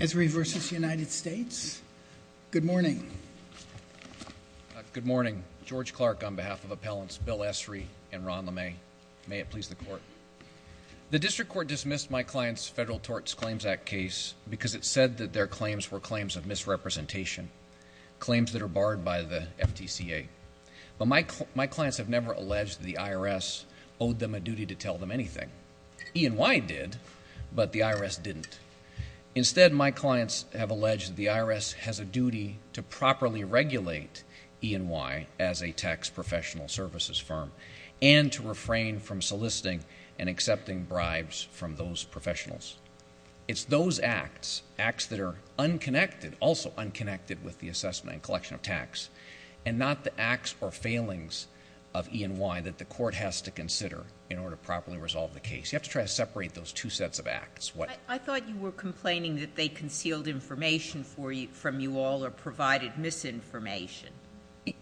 Esrey v. United States. Good morning. Good morning. George Clark on behalf of Appellants Bill Esrey and Ron LeMay. May it please the Court. The District Court dismissed my client's Federal Tort Claims Act case because it said that their claims were claims of misrepresentation, claims that are barred by the FTCA. But my clients have never alleged the IRS owed them a duty to tell them anything. E&Y did, but the IRS didn't. Instead, my clients have alleged that the IRS has a duty to properly regulate E&Y as a tax professional services firm and to refrain from soliciting and accepting bribes from those professionals. It's those acts, acts that are unconnected, also unconnected with the assessment and collection of tax, and not the acts or failings of E&Y that the Court has to consider in order to properly resolve the case. You have to try to separate those two sets of acts. I thought you were complaining that they concealed information from you all or provided misinformation.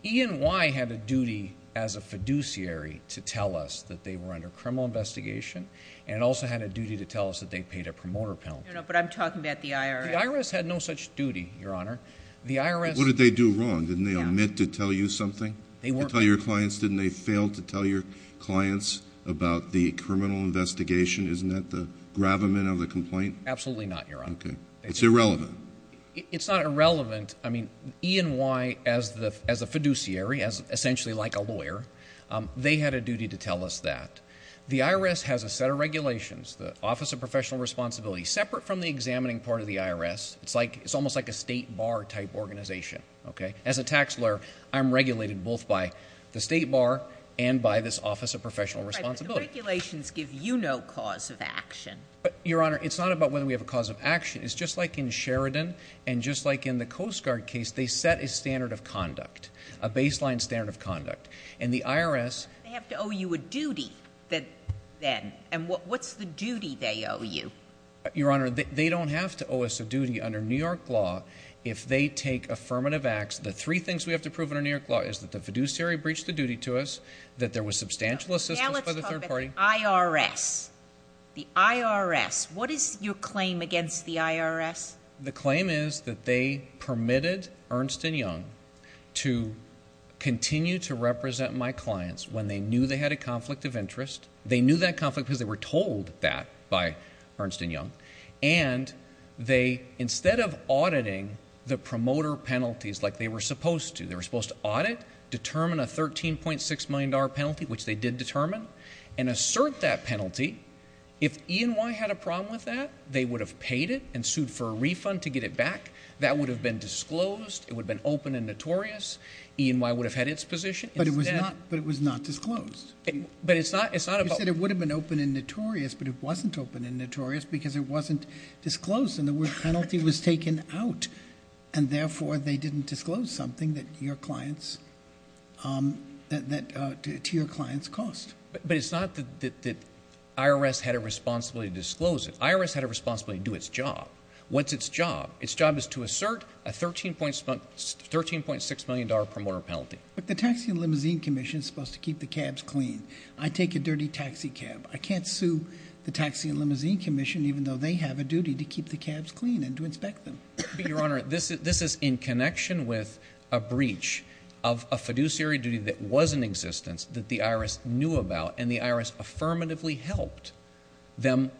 E&Y had a duty as a fiduciary to tell us that they were under criminal investigation and also had a duty to tell us that they paid a promoter penalty. No, no, but I'm talking about the IRS. The IRS had no such duty, Your Honor. What did they do wrong? Didn't they omit to tell you something? Didn't they fail to tell your clients about the criminal investigation? Isn't that the gravamen of the complaint? Absolutely not, Your Honor. It's irrelevant. It's not irrelevant. I mean, E&Y as a fiduciary, essentially like a lawyer, they had a duty to tell us that. The IRS has a set of regulations, the Office of Professional Responsibility, separate from the examining part of the IRS. It's almost like a state bar type organization. As a tax lawyer, I'm regulated both by the state bar and by this Office of Professional Responsibility. Regulations give you no cause of action. Your Honor, it's not about whether we have a cause of action. It's just like in Sheridan and just like in the Coast Guard case, they set a standard of conduct, a baseline standard of conduct. And the IRS... They have to owe you a duty then. And what's the duty they owe you? Your Honor, they don't have to owe us a duty under New York law if they take affirmative acts. The three things we have to prove under New York law is that the IRS... The IRS... What is your claim against the IRS? The claim is that they permitted Ernst & Young to continue to represent my clients when they knew they had a conflict of interest. They knew that conflict because they were told that by Ernst & Young. And they, instead of auditing the promoter penalties like they were supposed to, they were supposed to audit, determine a $13.6 million penalty, which they did determine, and assert that penalty. If E&Y had a problem with that, they would have paid it and sued for a refund to get it back. That would have been disclosed. It would have been open and notorious. E&Y would have had its position. But it was not disclosed. But it's not about... You said it would have been open and notorious, but it wasn't open and notorious because it wasn't disclosed. And the word penalty was taken out. And therefore, they didn't disclose something that your clients... To your clients cost. But it's not that IRS had a responsibility to disclose it. IRS had a responsibility to do its job. What's its job? Its job is to assert a $13.6 million promoter penalty. But the Taxi and Limousine Commission is supposed to keep the cabs clean. I take a dirty taxi cab. I can't sue the Taxi and Limousine Commission even though they have a duty to keep the cabs clean and to inspect them. Your Honor, this is in connection with a breach of a fiduciary duty that was in existence, that the IRS knew about, and the IRS affirmatively helped them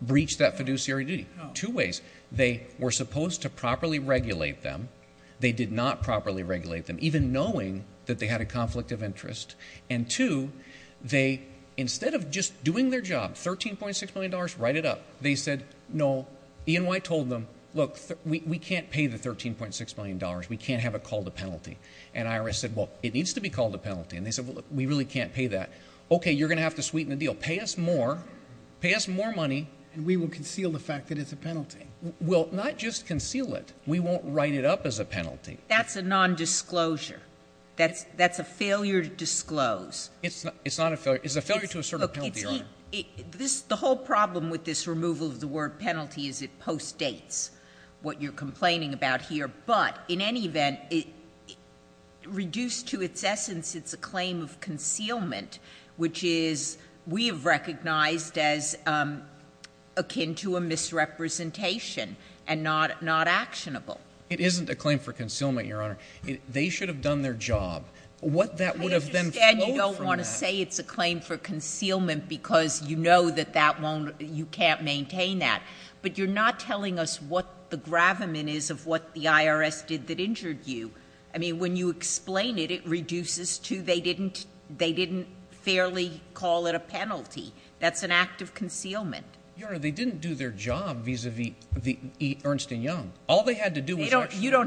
breach that fiduciary duty. Two ways. They were supposed to properly regulate them. They did not properly regulate them, even knowing that they had a conflict of interest. And two, instead of just doing their job, $13.6 million, write it up. They said, no. E&Y told them, look, we can't pay the $13.6 million. We can't have it called a penalty. And IRS said, well, it needs to be called a penalty. And they said, well, we really can't pay that. Okay, you're going to have to sweeten the deal. Pay us more. Pay us more money. And we will conceal the fact that it's a penalty. We'll not just conceal it. We won't write it up as a penalty. That's a nondisclosure. That's a failure to disclose. It's not a failure. It's a failure to assert a penalty, Your Honor. The whole problem with this removal of the word penalty is it post-dates what you're complaining about here. But in any event, reduced to its essence, it's a claim of concealment, which is, we have recognized as akin to a misrepresentation and not actionable. It isn't a claim for concealment, Your Honor. They should have done their job. What that would have then flowed from that— You don't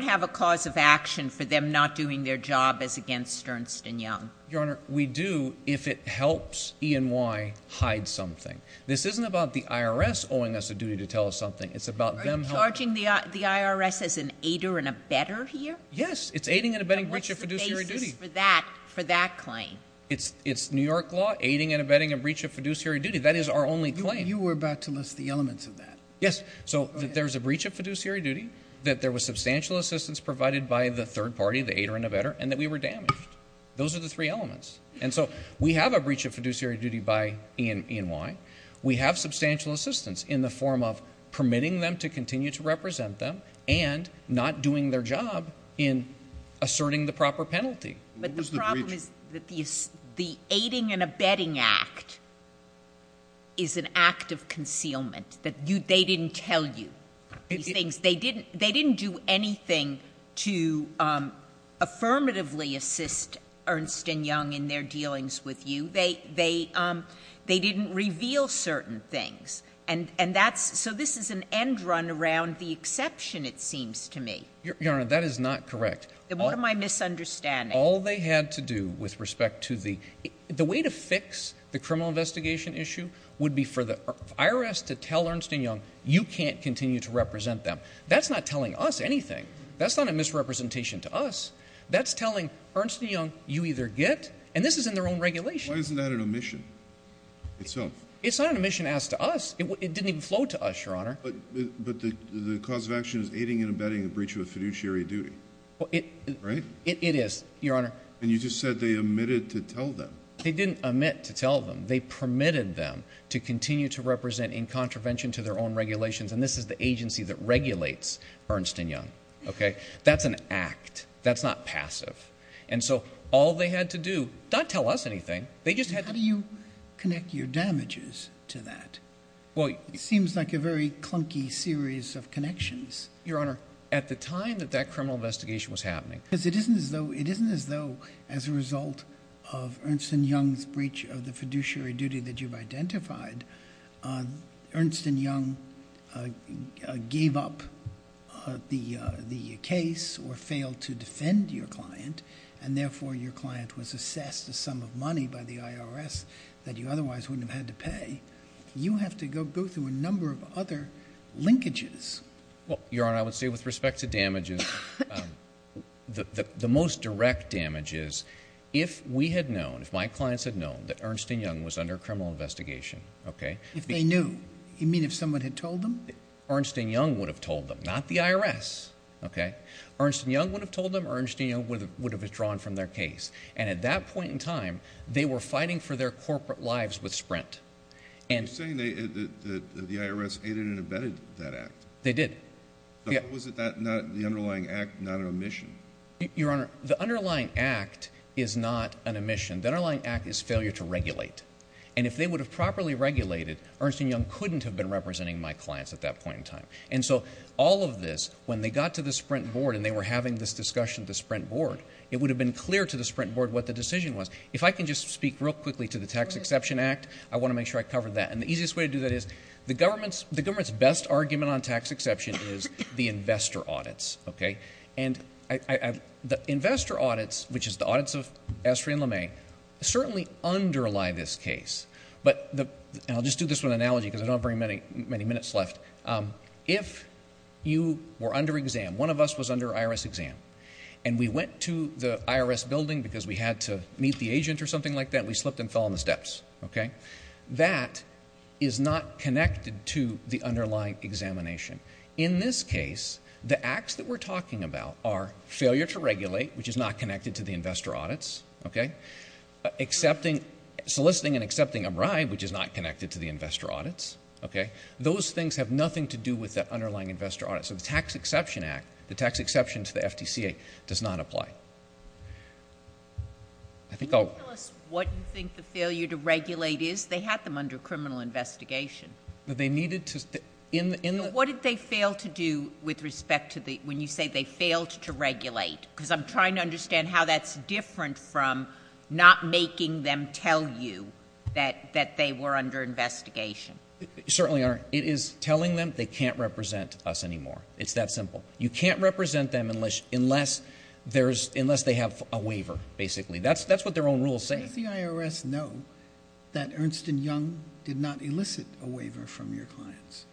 have a cause of action for them not doing their job as against Ernst & Young. Your Honor, we do if it helps E&Y hide something. This isn't about the IRS owing us a duty to tell us something. It's about them— Are you charging the IRS as an aider and abetter here? Yes. It's aiding and abetting breach of fiduciary duty. What's the basis for that claim? It's New York law, aiding and abetting a breach of fiduciary duty. That is our only claim. You were about to list the elements of that. Yes. So there's a breach of fiduciary duty, that there was substantial assistance provided by the third party, the aider and abetter, and that we were damaged. Those are the three elements. And so we have a breach of fiduciary duty by E&Y. We have substantial assistance in the form of permitting them to continue to represent them and not doing their job in asserting the proper penalty. But the problem is that the aiding and abetting act is an act of concealment, that they didn't tell you these things. They didn't do anything to affirmatively assist Ernst & Young in their dealings with you. They didn't reveal certain things. And that's—so this is an end run around the exception, it seems to me. Your Honor, that is not correct. What am I misunderstanding? All they had to do with respect to the—the way to fix the criminal investigation issue would be for the IRS to tell Ernst & Young, you can't continue to represent them. That's not telling us anything. That's not a misrepresentation to us. That's telling Ernst & Young, you either get—and this is in their own regulation. Why isn't that an omission itself? It's not an omission asked to us. It didn't even flow to us, Your Honor. But the cause of action is aiding and abetting a breach of fiduciary duty, right? It is, Your Honor. And you just said they omitted to tell them. They didn't omit to tell them. They permitted them to continue to represent in contravention to their own regulations. And this is the agency that regulates Ernst & Young, okay? That's an act. That's not passive. And so all they had to do—not tell us anything. They just had to— How do you connect your damages to that? Well— It seems like a very clunky series of connections, Your Honor. At the time that that criminal investigation was happening. Because it isn't as though—it isn't as though as a result of Ernst & Young's breach of the fiduciary duty that you've identified. Ernst & Young gave up the case or failed to defend your client. And therefore, your client was assessed a sum of money by the IRS that you otherwise wouldn't have had to pay. You have to go through a number of other linkages. Well, Your Honor, I would say with respect to damages, the most direct damage is if we had known that Ernst & Young was under criminal investigation, okay? If they knew? You mean if someone had told them? Ernst & Young would have told them. Not the IRS, okay? Ernst & Young would have told them. Ernst & Young would have withdrawn from their case. And at that point in time, they were fighting for their corporate lives with Sprint. And— You're saying that the IRS aided and abetted that act? They did. Was it not—the underlying act not an omission? Your Honor, the underlying act is not an omission. The underlying act is failure to regulate. And if they would have properly regulated, Ernst & Young couldn't have been representing my clients at that point in time. And so all of this, when they got to the Sprint board and they were having this discussion at the Sprint board, it would have been clear to the Sprint board what the decision was. If I can just speak real quickly to the Tax Exception Act, I want to make sure I cover that. And the easiest way to do that is the government's—the government's best argument on tax exception is the investor audits, okay? And I—the investor audits, which is the audits of Estrie and LeMay, certainly underlie this case. But the—and I'll just do this with an analogy because I don't have very many minutes left. If you were under exam, one of us was under IRS exam, and we went to the IRS building because we had to meet the agent or something like that, we slipped and fell on the steps, okay? That is not connected to the underlying examination. In this case, the acts that we're talking about are failure to regulate, which is not connected to the investor audits, okay? Accepting—soliciting and accepting a bribe, which is not connected to the investor audits, okay? Those things have nothing to do with the underlying investor audits. So the Tax Exception Act, the tax exception to the FTCA does not apply. I think I'll— Can you tell us what you think the failure to regulate is? They had them under criminal investigation. They needed to—in the— What did they fail to do with respect to the—when you say they failed to regulate? Because I'm trying to understand how that's different from not making them tell you that they were under investigation. Certainly are. It is telling them they can't represent us anymore. It's that simple. You can't represent them unless there's—unless they have a waiver, basically. That's what their own rules say. Does the IRS know that Ernst & Young did not elicit a waiver from your clients?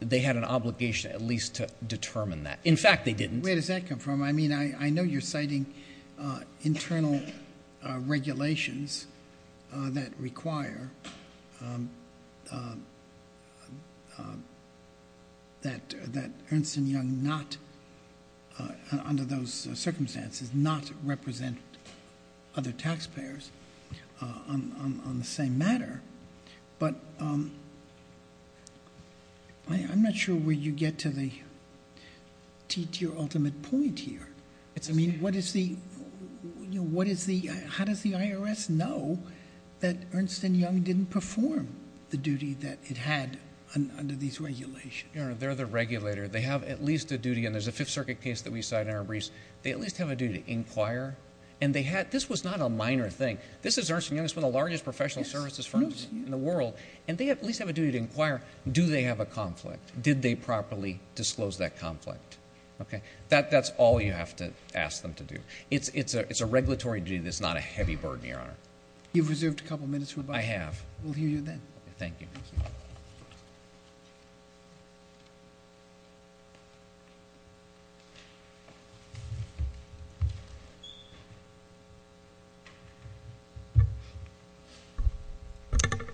They had an obligation at least to determine that. In fact, they didn't. Where does that come from? I mean, I know you're citing internal regulations that require that Ernst & Young not—under those circumstances, not represent other taxpayers on the same matter. But I'm not sure where you get to the—to your ultimate point here. It's— I mean, what is the—what is the—how does the IRS know that Ernst & Young didn't perform the duty that it had under these regulations? Your Honor, they're the regulator. They have at least a duty—and there's a Fifth Circuit case that we cite in our briefs. They at least have a duty to inquire. And they had—this was not a minor thing. This is Ernst & Young. It's one of the largest professional services firms. In the world. And they at least have a duty to inquire, do they have a conflict? Did they properly disclose that conflict? Okay. That—that's all you have to ask them to do. It's—it's a—it's a regulatory duty that's not a heavy burden, Your Honor. You've reserved a couple of minutes for advice. I have. We'll hear you then. Thank you.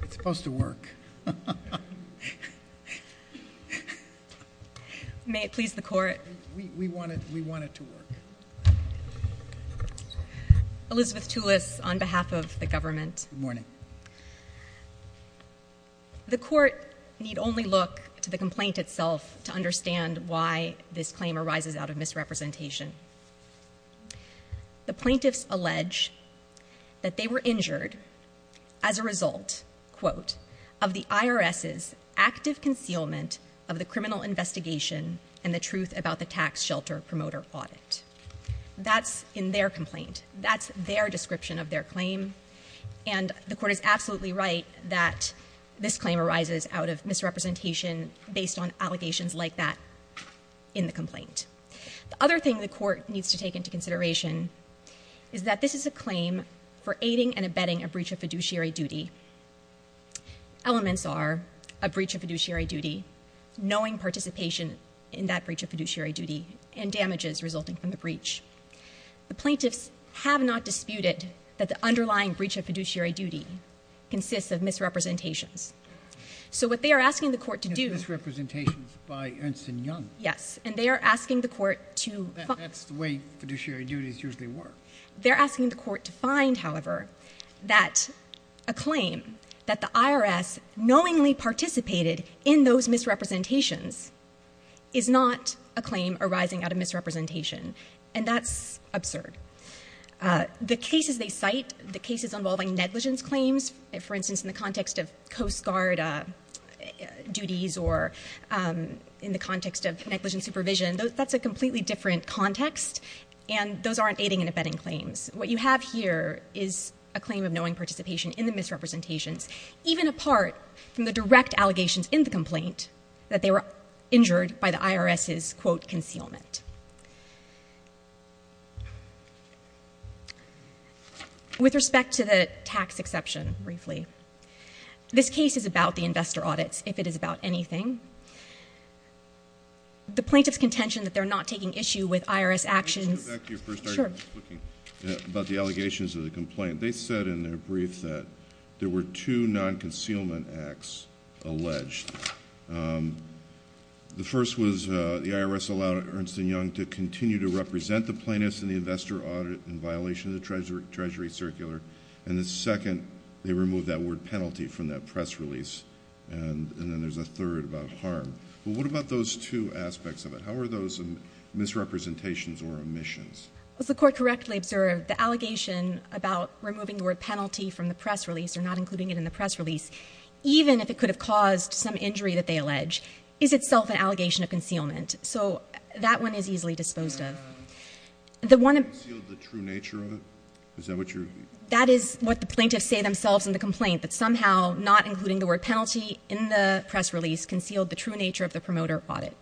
It's supposed to work. May it please the Court. We—we want it—we want it to work. Elizabeth Tulis, on behalf of the government. Good morning. The Court need only look to the complaint itself to understand why this claim arises out of misrepresentation. The plaintiffs allege that they were injured as a result, quote, of the IRS's active concealment of the criminal investigation and the truth about the tax shelter promoter audit. That's in their complaint. That's their description of their claim. And the Court is absolutely right that this claim arises out of misrepresentation based on allegations like that in the complaint. The other thing the Court needs to take into consideration is that this is a claim for aiding and abetting a breach of fiduciary duty. Elements are a breach of fiduciary duty, knowing participation in that breach of fiduciary duty, and damages resulting from the breach. The plaintiffs have not disputed that the underlying breach of fiduciary duty consists of misrepresentations. So what they are asking the Court to do— Misrepresentations by Ernst & Young. Yes. And they are asking the Court to— That's the way fiduciary duties usually work. They're asking the Court to find, however, that a claim that the IRS knowingly participated in those misrepresentations is not a claim arising out of misrepresentation. And that's absurd. The cases they cite, the cases involving negligence claims, for instance, in the context of Coast Guard duties or in the context of negligent supervision, that's a completely different context, and those aren't aiding and abetting claims. What you have here is a claim of knowing participation in the misrepresentations, even apart from the direct allegations in the complaint that they were injured by the IRS's, quote, concealment. With respect to the tax exception, briefly, this case is about the investor audits, if it is about anything. The plaintiff's contention that they're not taking issue with IRS actions— Can we go back to your first argument? Sure. About the allegations of the complaint. They said in their brief that there were two non-concealment acts alleged. The first was the IRS allowed Ernst & Young to continue to represent the plaintiffs in the investor audit in violation of the Treasury Circular, and the second, they removed that word penalty from that press release, and then there's a third about harm. But what about those two aspects of it? How are those misrepresentations or omissions? As the Court correctly observed, the allegation about removing the word penalty from the press release, even if it could have caused some injury that they allege, is itself an allegation of concealment. So that one is easily disposed of. And that one concealed the true nature of it? Is that what you're— That is what the plaintiffs say themselves in the complaint, that somehow not including the word penalty in the press release concealed the true nature of the promoter audit.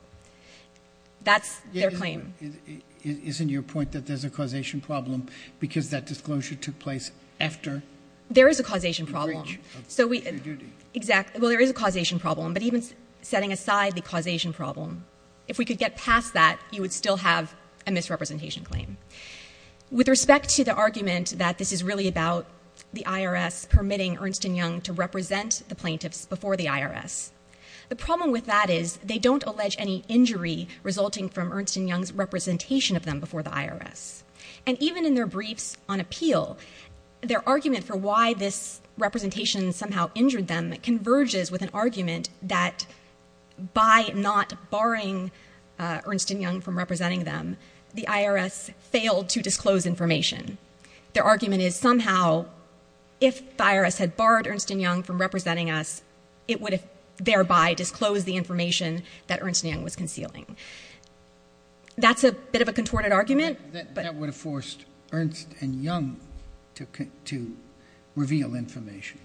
That's their claim. Isn't your point that there's a causation problem because that disclosure took place after the breach? There is a causation problem. So we— Exactly. Well, there is a causation problem. But even setting aside the causation problem, if we could get past that, you would still have a misrepresentation claim. With respect to the argument that this is really about the IRS permitting Ernst & Young to represent the plaintiffs before the IRS, the problem with that is they don't allege And even in their briefs on appeal, their argument for why this representation somehow injured them converges with an argument that by not barring Ernst & Young from representing them, the IRS failed to disclose information. Their argument is somehow if the IRS had barred Ernst & Young from representing us, it would have thereby disclosed the information that Ernst & Young was concealing. That's a bit of a contorted argument. That would have forced Ernst & Young to reveal information.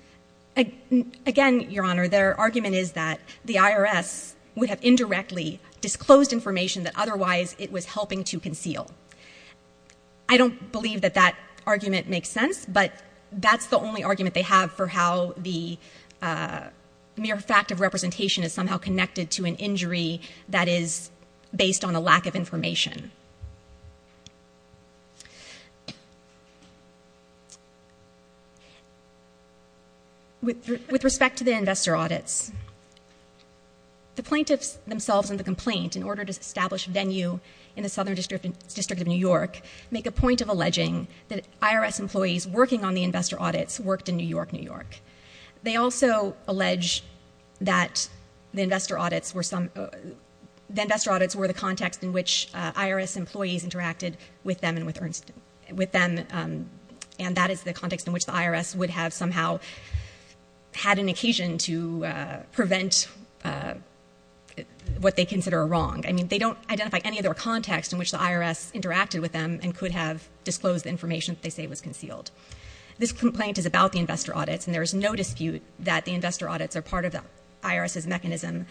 Again, Your Honor, their argument is that the IRS would have indirectly disclosed information that otherwise it was helping to conceal. I don't believe that that argument makes sense. But that's the only argument they have for how the mere fact of representation is somehow connected to an injury that is based on a lack of information. With respect to the investor audits, the plaintiffs themselves in the complaint in order to establish venue in the Southern District of New York make a point of alleging that IRS employees working on the investor audits worked in New York, New York. They also allege that the investor audits were the context in which IRS employees interacted with them and that is the context in which the IRS would have somehow had an occasion to prevent what they consider a wrong. I mean, they don't identify any other context in which the IRS interacted with them and could have disclosed the information that they say was concealed. This complaint is about the investor audits and there is no dispute that the investor audits are part of the IRS's mechanism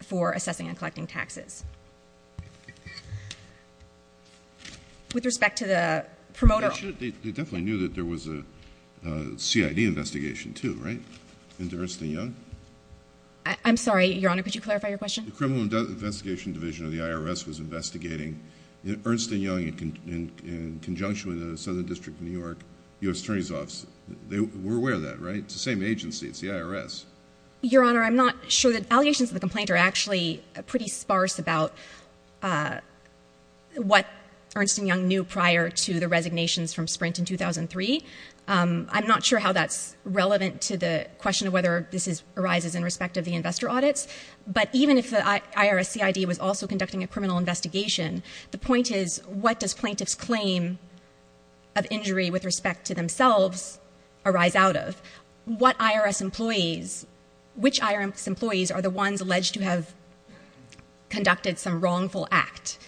for assessing and collecting taxes. With respect to the promoter... They definitely knew that there was a CID investigation too, right? Into Ernst and Young? I'm sorry, Your Honor, could you clarify your question? The Criminal Investigation Division of the IRS was investigating Ernst and Young in conjunction with the Southern District of New York U.S. Attorney's Office. They were aware of that, right? It's the same agency. It's the IRS. Your Honor, I'm not sure that allegations of the complaint are actually pretty sparse about what Ernst and Young knew prior to the resignations from Sprint in 2003. I'm not sure how that's relevant to the question of whether this arises in respect of the investor audits. But even if the IRS CID was also conducting a criminal investigation, the point is, what does plaintiff's claim of injury with respect to themselves arise out of? What IRS employees... Which IRS employees are the ones alleged to have conducted some wrongful act?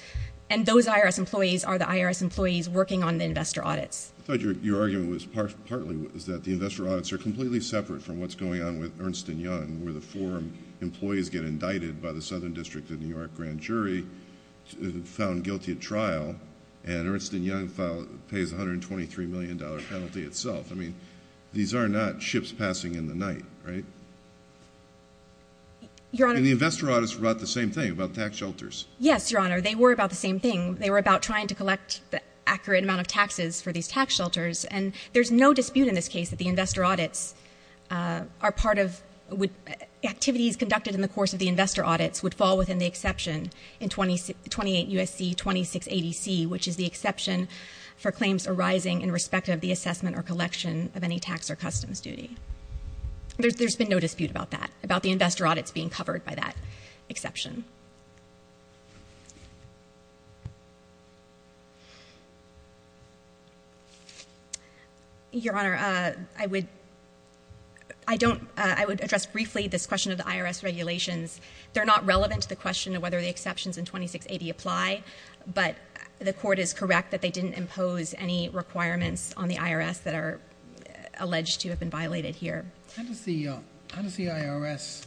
And those IRS employees are the IRS employees working on the investor audits. I thought your argument was partly that the investor audits are completely separate from what's going on with Ernst and Young, where the four employees get indicted by the Southern District of New York grand jury, found guilty at trial, and Ernst and Young pays $123 million penalty itself. I mean, these are not ships passing in the night, right? Your Honor... And the investor audits brought the same thing about tax shelters. Yes, Your Honor. They were about the same thing. They were about trying to collect the accurate amount of taxes for these tax shelters. And there's no dispute in this case that the investor audits are part of... Activities conducted in the course of the investor audits would fall within the exception in 28 U.S.C. 2680C, which is the exception for claims arising in respect of the assessment or collection of any tax or customs duty. There's been no dispute about that, about the investor audits being covered by that exception. Your Honor, I would address briefly this question of the IRS regulations. They're not relevant to the question of whether the exceptions in 2680 apply, but the court is correct that they didn't impose any requirements on the IRS that are alleged to have been violated here. How does the IRS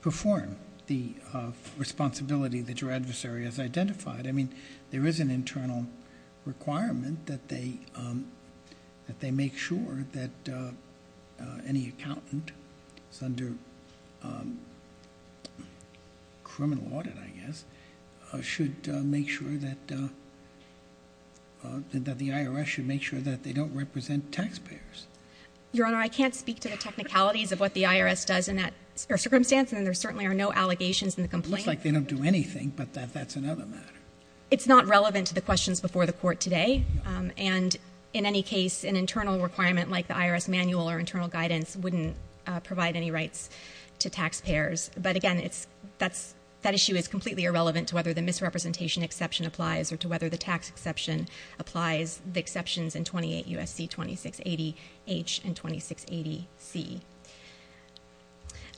perform the responsibility that your adversary has identified? I mean, there is an internal requirement that they make sure that any accountant is under criminal audit, I guess, should make sure that the IRS should make sure that they don't represent taxpayers. Your Honor, I can't speak to the technicalities of what the IRS does in that circumstance, and there certainly are no allegations in the complaint. Looks like they don't do anything, but that's another matter. It's not relevant to the questions before the court today. And in any case, an internal requirement like the IRS manual or internal guidance wouldn't provide any rights to taxpayers. But again, that issue is completely irrelevant to whether the misrepresentation exception H in 2680 C.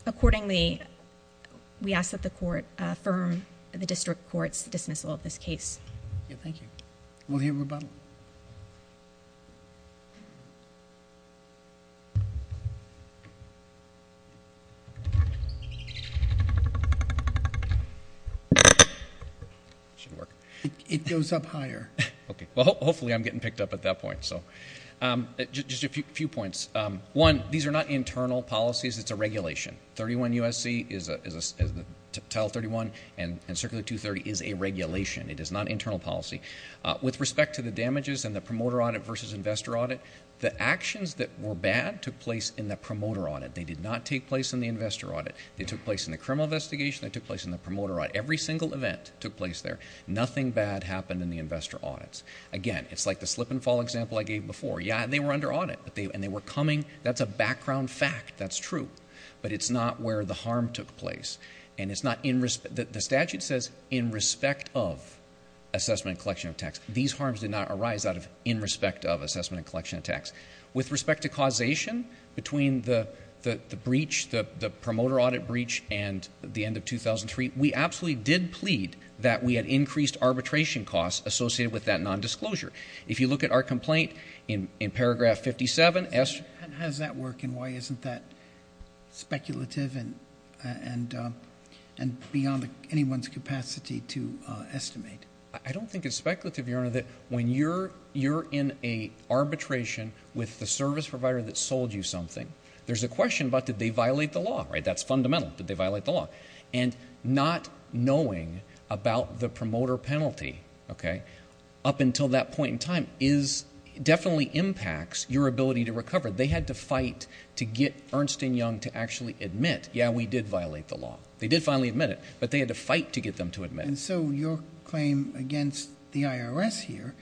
Accordingly, we ask that the court affirm the district court's dismissal of this case. Thank you. We'll hear rebuttal. It goes up higher. Okay. Well, hopefully I'm getting picked up at that point. Just a few points. One, these are not internal policies. It's a regulation. 31 U.S.C., as Title 31 and Circular 230 is a regulation. It is not internal policy. With respect to the damages and the promoter audit versus investor audit, the actions that were bad took place in the promoter audit. They did not take place in the investor audit. They took place in the criminal investigation. They took place in the promoter audit. Every single event took place there. Nothing bad happened in the investor audits. Again, it's like the slip and fall example I gave before. Yeah, they were under audit, and they were coming. That's a background fact. That's true. But it's not where the harm took place. And the statute says in respect of assessment and collection of tax. These harms did not arise out of in respect of assessment and collection of tax. With respect to causation between the breach, the promoter audit breach, and the end of 2003, we absolutely did plead that we had increased arbitration costs associated with that nondisclosure. If you look at our complaint in paragraph 57, it has that work, and why isn't that speculative and beyond anyone's capacity to estimate? I don't think it's speculative, Your Honor, that when you're in an arbitration with the service provider that sold you something, there's a question about did they violate the law. That's fundamental. Did they violate the law? And not knowing about the promoter penalty up until that point in time definitely impacts your ability to recover. They had to fight to get Ernst & Young to actually admit, yeah, we did violate the law. They did finally admit it, but they had to fight to get them to admit it. And so your claim against the IRS here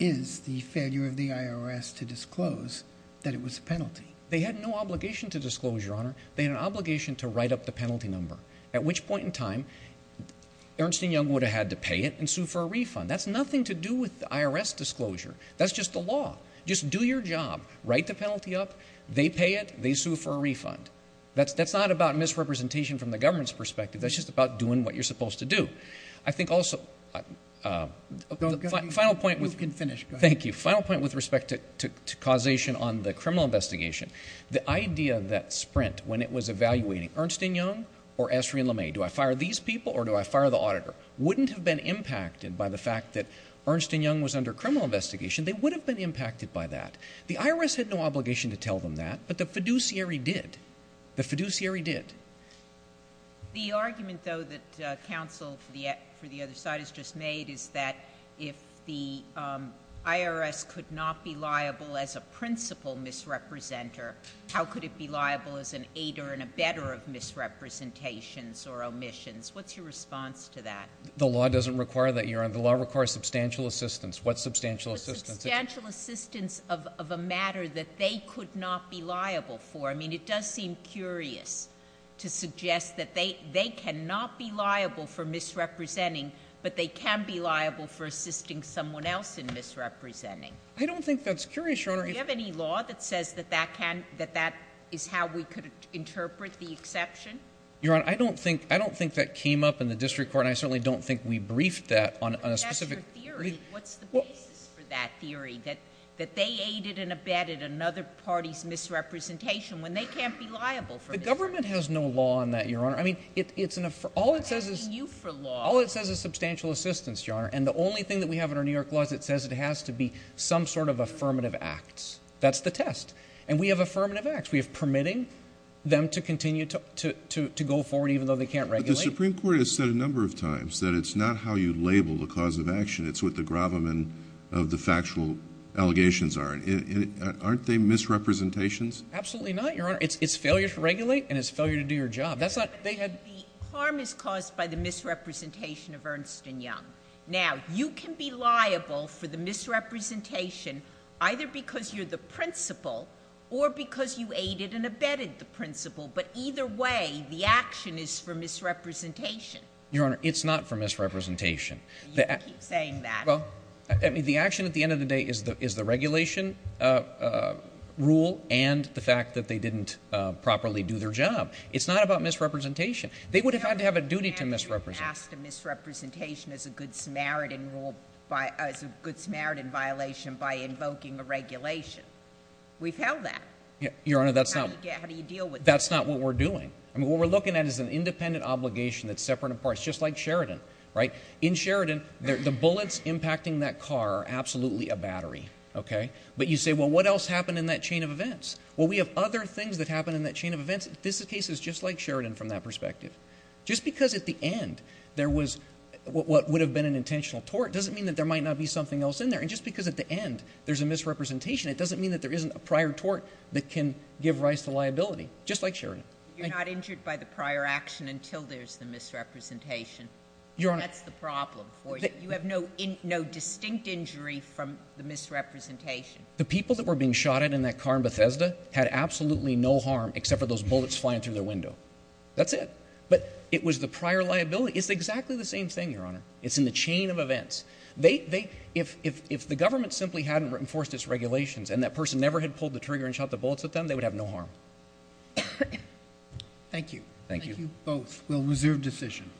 is the failure of the IRS to disclose that it was a penalty. They had no obligation to disclose, Your Honor. They had an obligation to write up the penalty number, at which point in time, Ernst & Young would have had to pay it and sue for a refund. That's nothing to do with the IRS disclosure. That's just the law. Just do your job. Write the penalty up. They pay it. They sue for a refund. That's not about misrepresentation from the government's perspective. That's just about doing what you're supposed to do. I think also the final point with respect to causation on the criminal investigation, the idea that Sprint, when it was evaluating Ernst & Young or Esri & LeMay, do I fire these people or do I fire the auditor, wouldn't have been impacted by the fact that Ernst & Young was under criminal investigation. They would have been impacted by that. The IRS had no obligation to tell them that, but the fiduciary did. The fiduciary did. The argument, though, that counsel for the other side has just made is that if the IRS could not be liable as a principal misrepresenter, how could it be liable as an aider in a bedder of misrepresentations or omissions? What's your response to that? The law doesn't require that, Your Honor. The law requires substantial assistance. What substantial assistance? Substantial assistance of a matter that they could not be liable for. I mean, it does seem curious to suggest that they cannot be liable for misrepresenting, but they can be liable for assisting someone else in misrepresenting. I don't think that's curious, Your Honor. Do you have any law that says that that is how we could interpret the exception? Your Honor, I don't think that came up in the district court, and I certainly don't think we briefed that on a specific— But that's your theory. What's the basis for that theory, that they aided and abetted another party's misrepresentation when they can't be liable for misrepresenting? The government has no law on that, Your Honor. I mean, all it says is substantial assistance, Your Honor, and the only thing that we have in our New York laws, it says it has to be some sort of affirmative act. That's the test. And we have affirmative acts. We have permitting them to continue to go forward even though they can't regulate. But the Supreme Court has said a number of times that it's not how you label the cause of action. It's what the gravamen of the factual allegations are. Aren't they misrepresentations? Absolutely not, Your Honor. It's failure to regulate, and it's failure to do your job. But the harm is caused by the misrepresentation of Ernst and Young. Now, you can be liable for the misrepresentation either because you're the principal or because you aided and abetted the principal. But either way, the action is for misrepresentation. Your Honor, it's not for misrepresentation. You keep saying that. Well, I mean, the action at the end of the day is the regulation rule and the fact that they didn't properly do their job. It's not about misrepresentation. They would have had to have a duty to misrepresent. Asked a misrepresentation as a Good Samaritan violation by invoking a regulation. We've held that. Your Honor, that's not what we're doing. I mean, what we're looking at is an independent obligation that's separate and apart. It's just like Sheridan, right? In Sheridan, the bullets impacting that car are absolutely a battery, okay? But you say, well, what else happened in that chain of events? Well, we have other things that happened in that chain of events. This case is just like Sheridan from that perspective. Just because at the end, there was what would have been an intentional tort, doesn't mean that there might not be something else in there. And just because at the end, there's a misrepresentation, it doesn't mean that there isn't a prior tort that can give rise to liability, just like Sheridan. You're not injured by the prior action until there's the misrepresentation. That's the problem for you. You have no distinct injury from the misrepresentation. The people that were being shot at in that car in Bethesda had absolutely no harm except for those bullets flying through their window. That's it. It was the prior liability. It's exactly the same thing, Your Honor. It's in the chain of events. If the government simply hadn't enforced its regulations and that person never had pulled the trigger and shot the bullets at them, they would have no harm. Thank you. Thank you. Both. We'll reserve decision.